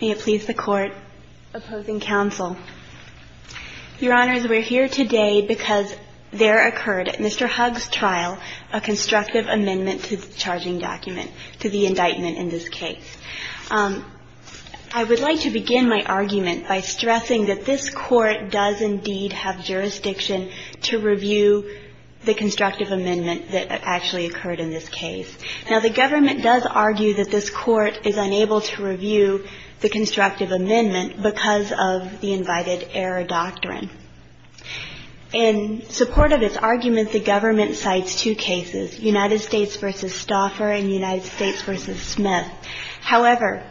May it please the Court, opposing counsel. Your Honors, we're here today because there occurred at Mr. Hugs' trial a constructive amendment to the charging document, to the indictment in this case. I would like to begin my argument by stressing that this Court does indeed have jurisdiction to review the constructive amendment that actually occurred in this case. Now, the Government does argue that this Court is unable to review the constructive amendment because of the invited error doctrine. In support of its argument, the Government cites two cases, United States v. Stauffer and United States v. Smith. However,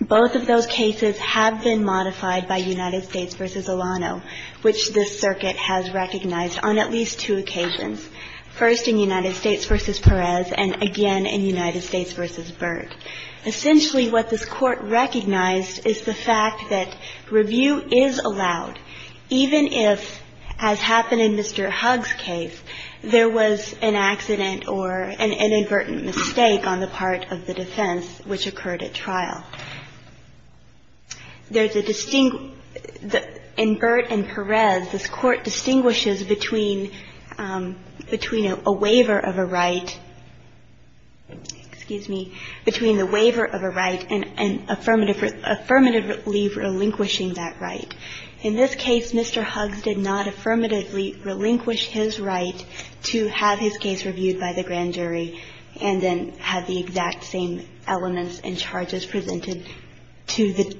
both of those cases have been modified by United States v. Alano, which this Circuit has recognized on at least two occasions, first in United States v. Perez and again in United States v. Byrd. Essentially, what this Court recognizes is that review is allowed even if, as happened in Mr. Hugs' case, there was an accident or an inadvertent mistake on the part of the defense, which occurred at trial. There's a distinct – in Byrd and Perez, this Court distinguishes between a waiver of a right – excuse me – between the waiver of a right and affirmatively relinquishing that right. In this case, Mr. Hugs did not affirmatively relinquish his right to have his case reviewed by the grand jury and then have the exact same elements and charges presented to him.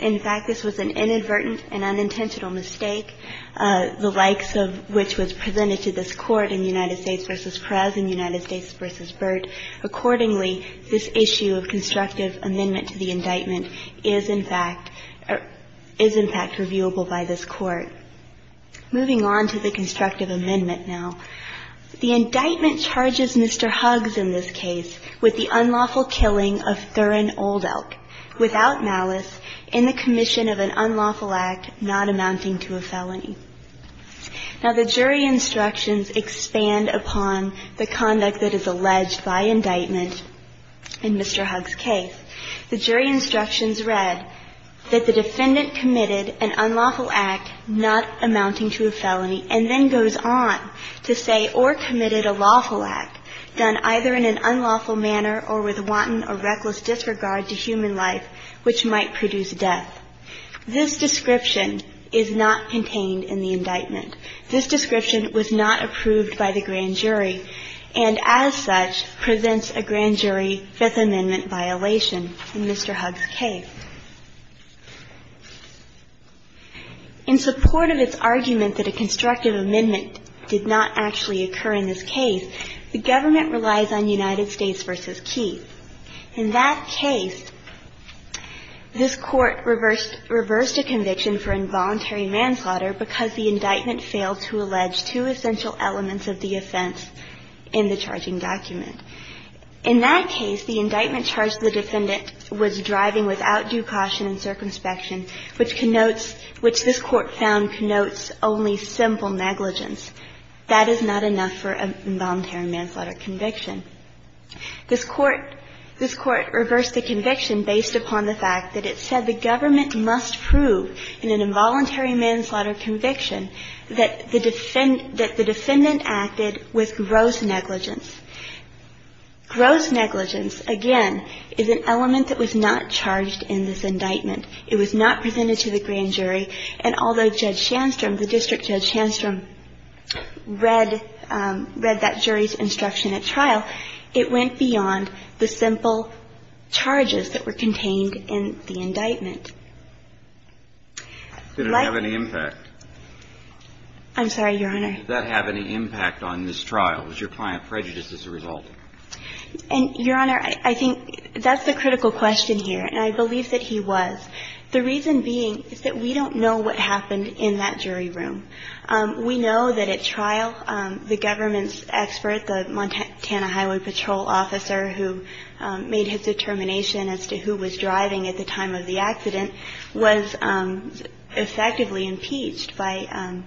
In fact, this was an inadvertent and unintentional mistake, the likes of which was presented to this Court in United States v. Perez and United States v. Byrd. Accordingly, this issue of constructive amendment to the indictment is, in fact, is, in fact, reviewable by this Court. Moving on to the constructive amendment now. The indictment charges Mr. Hugs in this case with the unlawful killing of Thurin Oldelk without malice in the commission of an unlawful act not amounting to a felony. Now, the jury instructions expand upon the conduct that is alleged by indictment in Mr. Hugs' case. The jury instructions read that the defendant committed an unlawful act, not a felony. And then goes on to say, or committed a lawful act done either in an unlawful manner or with wanton or reckless disregard to human life, which might produce death. This description is not contained in the indictment. This description was not approved by the grand jury and, as such, presents a grand jury Fifth Amendment violation in Mr. Hugs' case. In support of its argument that a constructive amendment did not actually occur in this case, the government relies on United States v. Keith. In that case, this Court reversed a conviction for involuntary manslaughter because the indictment failed to allege two essential elements of the offense in the charging document. In that case, the indictment charged the defendant was driving without due caution and circumspection, which connotes – which this Court found connotes only simple negligence. That is not enough for an involuntary manslaughter conviction. This Court reversed the conviction based upon the fact that it said the government must prove in an involuntary manslaughter conviction that the defendant acted with gross negligence. Gross negligence, again, is an element that was not charged in this indictment. It was not presented to the grand jury. And although Judge Shandstrom, the district judge Shandstrom, read that jury's instruction at trial, it went beyond the simple charges that were contained in the indictment. Like – Did it have any impact? I'm sorry, Your Honor. Did that have any impact on this trial? Was your client prejudiced as a result? And, Your Honor, I think that's the critical question here, and I believe that he was. The reason being is that we don't know what happened in that jury room. We know that at trial, the government's expert, the Montana Highway Patrol officer who made his determination as to who was driving at the time of the accident, was effectively impeached by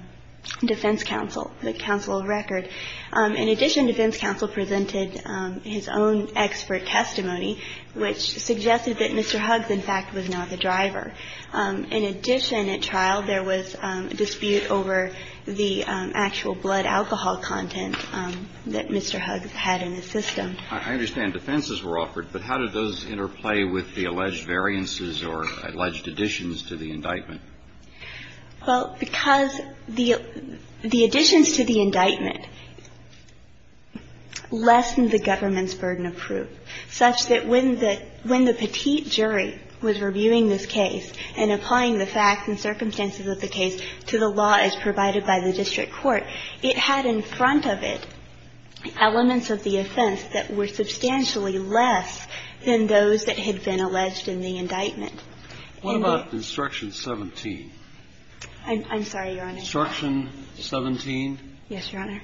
defense counsel, the counsel of record. In addition, defense counsel presented his own expert testimony, which suggested that Mr. Huggs, in fact, was not the driver. In addition, at trial, there was a dispute over the actual blood alcohol content that Mr. Huggs had in the system. I understand defenses were offered, but how did those interplay with the alleged variances or alleged additions to the indictment? Well, because the additions to the indictment lessened the government's burden of proof, such that when the – when the petite jury was reviewing this case and applying the facts and circumstances of the case to the law as provided by the district court, it had in front of it elements of the offense that were substantially less than those that had been alleged in the indictment. What about Instruction 17? I'm sorry, Your Honor. Instruction 17? Yes, Your Honor.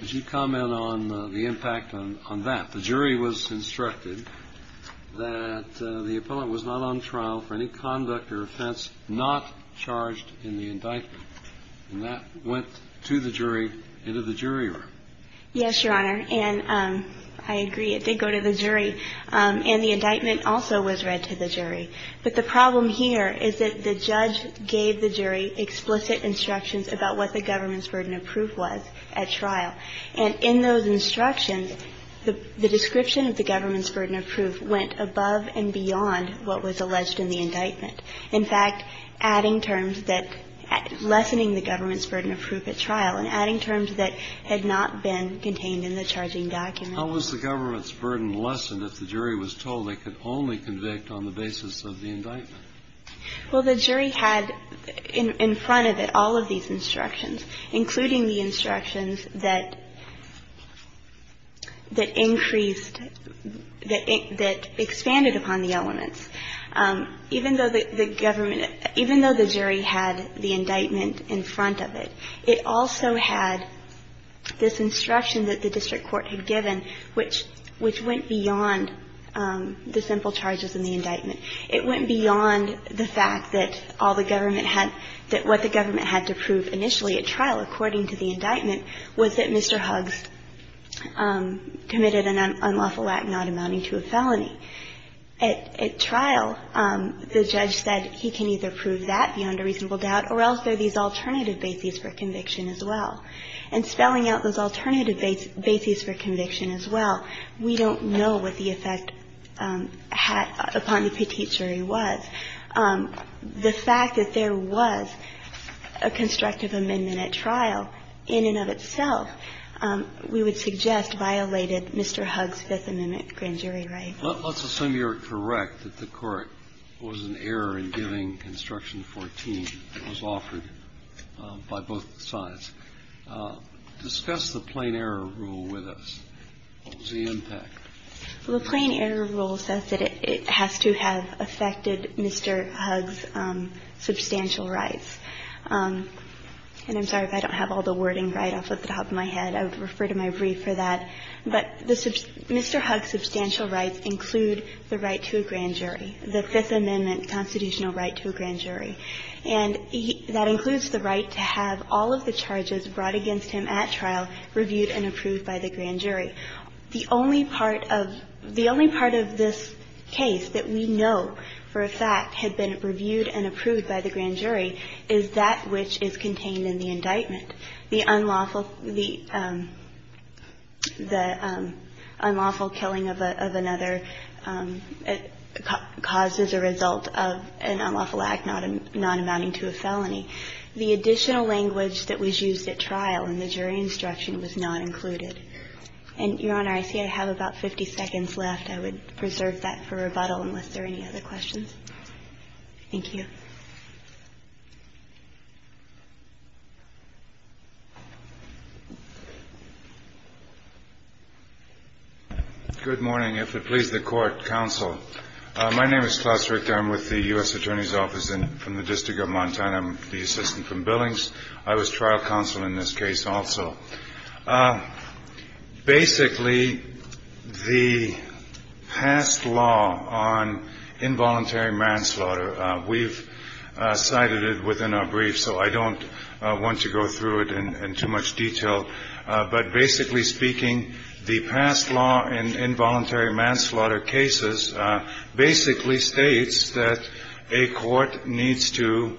Would you comment on the impact on that? The jury was instructed that the appellant was not on trial for any conduct or offense not charged in the indictment. And that went to the jury, into the jury room. Yes, Your Honor. And I agree, it did go to the jury. And the indictment also was read to the jury. But the problem here is that the judge gave the jury explicit instructions about what the government's burden of proof was at trial. And in those instructions, the description of the government's burden of proof went above and beyond what was alleged in the indictment. In fact, adding terms that lessening the government's burden of proof at trial and adding terms that had not been contained in the charging document. How was the government's burden lessened if the jury was told they could only convict on the basis of the indictment? Well, the jury had in front of it all of these instructions, including the instructions that increased, that expanded upon the elements. Even though the government, even though the jury had the indictment in front of it, it also had this instruction that the district court had given, which went beyond the simple charges in the indictment. It went beyond the fact that all the government had, that what the government had to prove initially at trial, according to the indictment, was that Mr. Huggs committed an unlawful act not amounting to a felony. At trial, the judge said he can either prove that beyond a reasonable doubt or else there are these alternative bases for conviction as well. And spelling out those alternative bases for conviction as well, we don't know what the effect upon the petite jury was. The fact that there was a constructive amendment at trial in and of itself, we would suggest, violated Mr. Huggs' Fifth Amendment grand jury right. Let's assume you're correct that the Court was in error in giving Construction 14 that was offered by both sides. Discuss the plain error rule with us. What was the impact? Well, the plain error rule says that it has to have affected Mr. Huggs' substantial rights. And I'm sorry if I don't have all the wording right off the top of my head. I would refer to my brief for that. But Mr. Huggs' substantial rights include the right to a grand jury, the Fifth Amendment constitutional right to a grand jury. And that includes the right to have all of the charges brought against him at trial reviewed and approved by the grand jury. The only part of this case that we know for a fact had been reviewed and approved by the grand jury is that which is contained in the indictment. The unlawful, the unlawful killing of another causes a result of an unlawful act not amounting to a felony. The additional language that was used at trial in the jury instruction was not included. And, Your Honor, I see I have about 50 seconds left. I would preserve that for rebuttal unless there are any other questions. Thank you. Good morning. If it pleases the court, counsel. My name is Klaus Richter. I'm with the U.S. Attorney's Office from the District of Montana. I'm the assistant from Billings. I was trial counsel in this case also. Basically, the past law on involuntary manslaughter, we've cited it within our brief, so I don't want to go through it in too much detail. But basically speaking, the past law in involuntary manslaughter cases basically states that a court needs to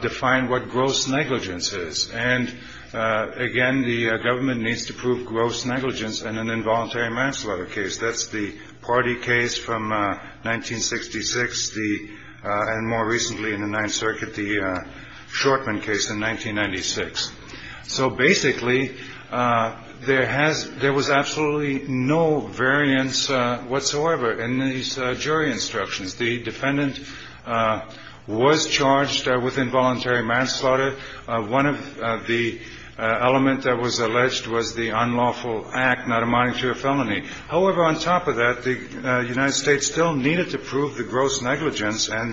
define what gross negligence is. And, again, the government needs to prove gross negligence in an involuntary manslaughter case. That's the party case from 1966, and more recently in the Ninth Circuit, the Shortman case in 1996. So basically there was absolutely no variance whatsoever in these jury instructions. The defendant was charged with involuntary manslaughter. One of the elements that was alleged was the unlawful act, not a monetary felony. However, on top of that, the United States still needed to prove the gross negligence, and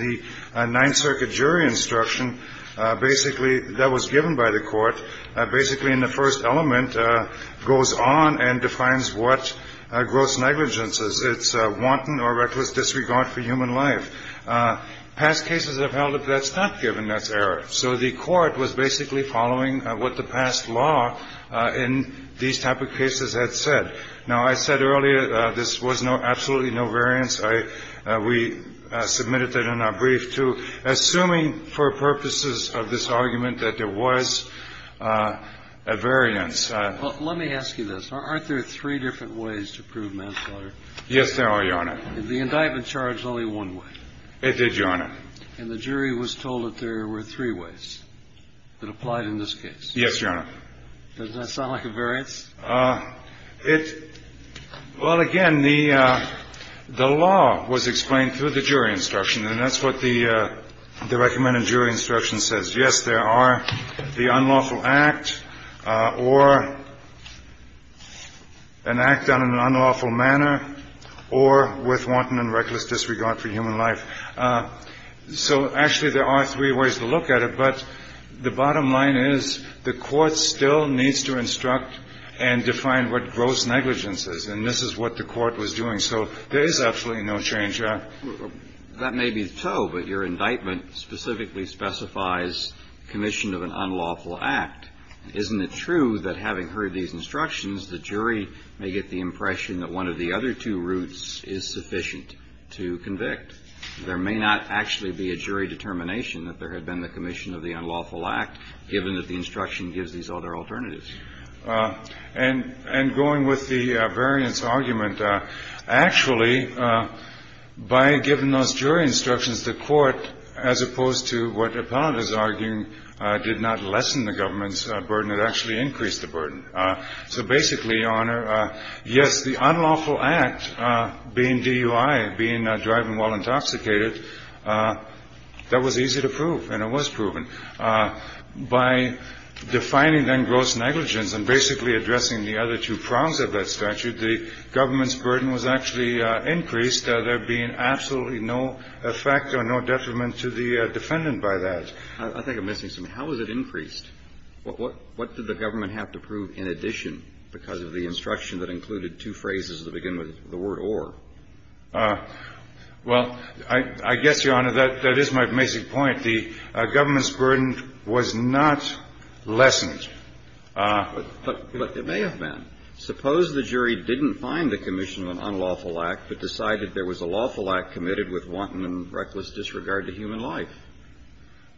the Ninth Circuit jury instruction basically that was given by the court basically in the first element goes on and defines what gross negligence is. It's wanton or reckless disregard for human life. Past cases have held that that's not given, that's error. So the court was basically following what the past law in these type of cases had said. Now, I said earlier this was no – absolutely no variance. We submitted that in our brief, too, assuming for purposes of this argument that there was a variance. Well, let me ask you this. Aren't there three different ways to prove manslaughter? Yes, there are, Your Honor. The indictment charged only one way. It did, Your Honor. And the jury was told that there were three ways that applied in this case. Yes, Your Honor. Doesn't that sound like a variance? It – well, again, the law was explained through the jury instruction, and that's what the recommended jury instruction says. Yes, there are the unlawful act or an act done in an unlawful manner or with wanton and reckless disregard for human life. So, actually, there are three ways to look at it, but the bottom line is the court still needs to instruct and define what gross negligence is. And this is what the court was doing. So there is absolutely no change. That may be so, but your indictment specifically specifies commission of an unlawful act. Isn't it true that having heard these instructions, the jury may get the impression that one of the other two routes is sufficient to convict? There may not actually be a jury determination that there had been the commission of the unlawful act, given that the instruction gives these other alternatives. And going with the variance argument, actually, by giving those jury instructions, the court, as opposed to what the appellant is arguing, did not lessen the government's burden. It actually increased the burden. So basically, Your Honor, yes, the unlawful act being DUI, being driving while intoxicated, that was easy to prove, and it was proven. By defining then gross negligence and basically addressing the other two prongs of that statute, the government's burden was actually increased. There being absolutely no effect or no detriment to the defendant by that. I think I'm missing something. How was it increased? What did the government have to prove in addition because of the instruction that included two phrases that begin with the word or? Well, I guess, Your Honor, that is my basic point. The government's burden was not lessened. But it may have been. Suppose the jury didn't find the commission of an unlawful act but decided there was a lawful act committed with wanton and reckless disregard to human life.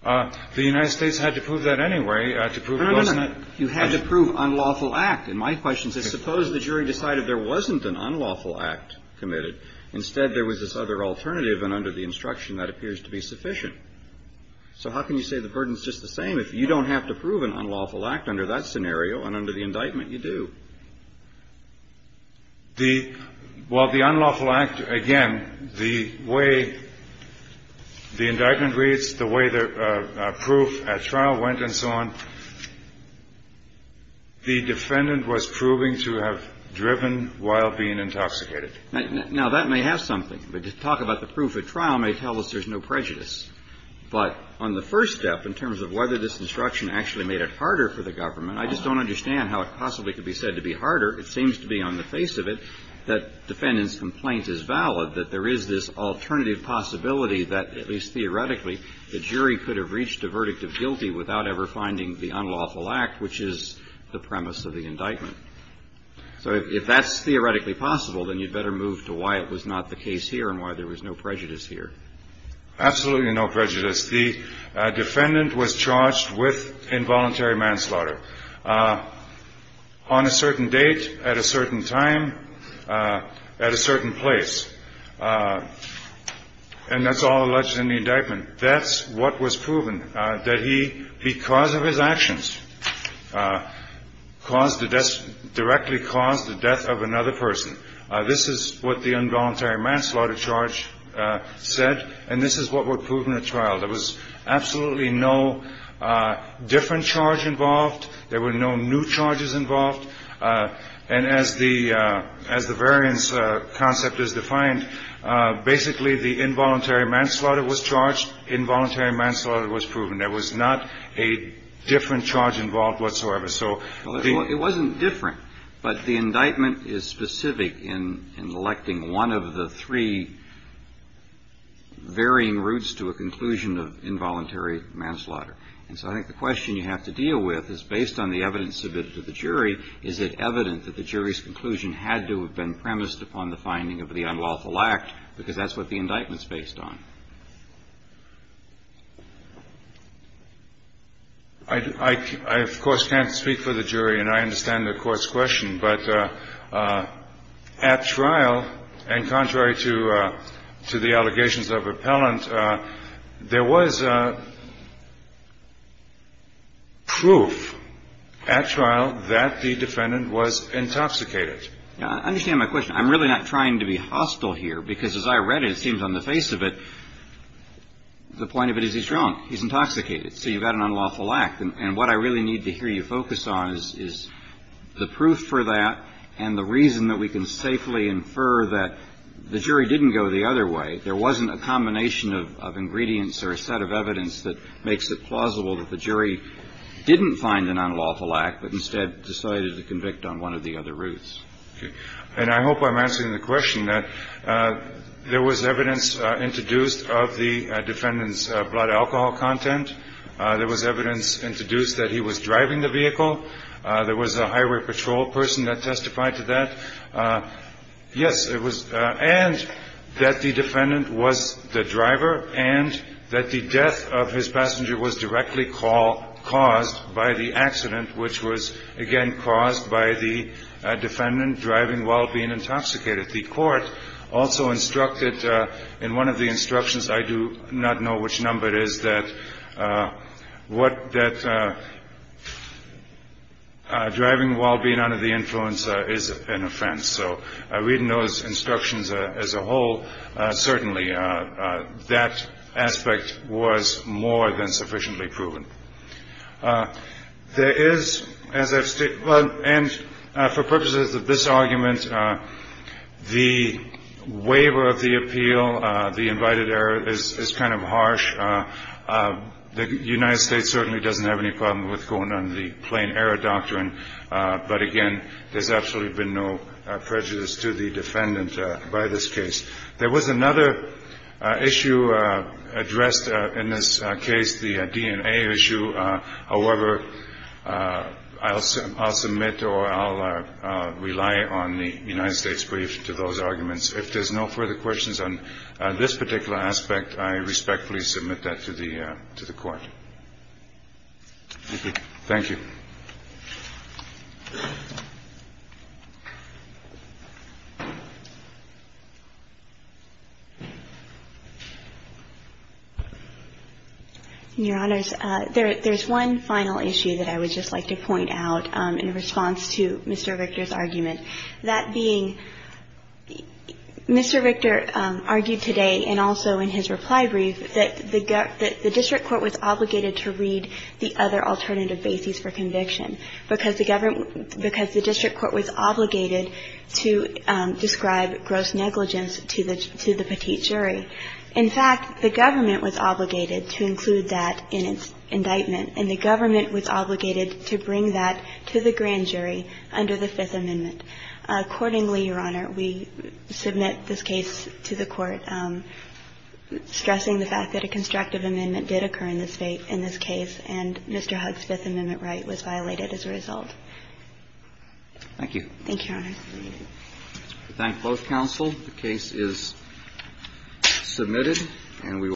The United States had to prove that anyway to prove gross negligence. Wait a minute. You had to prove unlawful act. And my question is, suppose the jury decided there wasn't an unlawful act committed. Instead, there was this other alternative and under the instruction that appears to be sufficient. So how can you say the burden is just the same if you don't have to prove an unlawful act under that scenario and under the indictment you do? Well, the unlawful act, again, the way the indictment reads, the way the proof at trial went and so on, the defendant was proving to have driven while being intoxicated. Now, that may have something. But to talk about the proof at trial may tell us there's no prejudice. But on the first step, in terms of whether this instruction actually made it harder for the government, I just don't understand how it possibly could be said that the It seems to be on the face of it that defendant's complaint is valid, that there is this alternative possibility that at least theoretically the jury could have reached a verdict of guilty without ever finding the unlawful act, which is the premise of the indictment. So if that's theoretically possible, then you'd better move to why it was not the case here and why there was no prejudice here. Absolutely no prejudice. The defendant was charged with involuntary manslaughter. On a certain date, at a certain time, at a certain place. And that's all alleged in the indictment. That's what was proven, that he, because of his actions, caused the death, directly caused the death of another person. This is what the involuntary manslaughter charge said. And this is what was proven at trial. There was absolutely no different charge involved. There were no new charges involved. And as the variance concept is defined, basically the involuntary manslaughter was charged. Involuntary manslaughter was proven. There was not a different charge involved whatsoever. It wasn't different, but the indictment is specific in electing one of the three varying routes to a conclusion of involuntary manslaughter. And so I think the question you have to deal with is, based on the evidence submitted to the jury, is it evident that the jury's conclusion had to have been premised upon the finding of the unlawful act, because that's what the indictment is based on? I, of course, can't speak for the jury, and I understand the Court's question, but at trial, and contrary to the allegations of appellant, there was proof at trial that the defendant was intoxicated. I understand my question. I'm really not trying to be hostile here, because as I read it, it seems on the face of it, the point of it is he's drunk, he's intoxicated, so you've got an unlawful act. And what I really need to hear you focus on is the proof for that and the reason that we can safely infer that the jury didn't go the other way. There wasn't a combination of ingredients or a set of evidence that makes it plausible that the jury didn't find an unlawful act, but instead decided to convict on one of the other routes. Okay. And I hope I'm answering the question that there was evidence introduced of the defendant's blood alcohol content. There was evidence introduced that he was driving the vehicle. There was a highway patrol person that testified to that. Yes, it was. And that the defendant was the driver and that the death of his passenger was directly caused by the accident, which was, again, caused by the defendant driving while being intoxicated. The Court also instructed in one of the instructions, I do not know which number it is, that driving while being under the influence is an offense. So reading those instructions as a whole, certainly that aspect was more than sufficiently proven. There is, as I've stated, and for purposes of this argument, the waiver of the appeal, the invited error is kind of harsh. The United States certainly doesn't have any problem with going under the plain error doctrine. But, again, there's absolutely been no prejudice to the defendant by this case. There was another issue addressed in this case, the DNA issue. However, I'll submit or I'll rely on the United States' brief to those arguments. If there's no further questions on this particular aspect, I respectfully submit that to the Court. Thank you. In your Honors, there's one final issue that I would just like to point out in response to Mr. Victor's argument. That being, Mr. Victor argued today and also in his reply brief that the district court was obligated to read the other alternative bases for conviction because the district court was obligated to describe gross negligence to the petite jury. In fact, the government was obligated to include that in its indictment, and the government was obligated to bring that to the grand jury under the Fifth Amendment. Accordingly, Your Honor, we submit this case to the Court, stressing the fact that a constructive amendment did occur in this case, and Mr. Huggs' Fifth Amendment right was violated as a result. Thank you. Thank you, Your Honor. We thank both counsel. The case is submitted.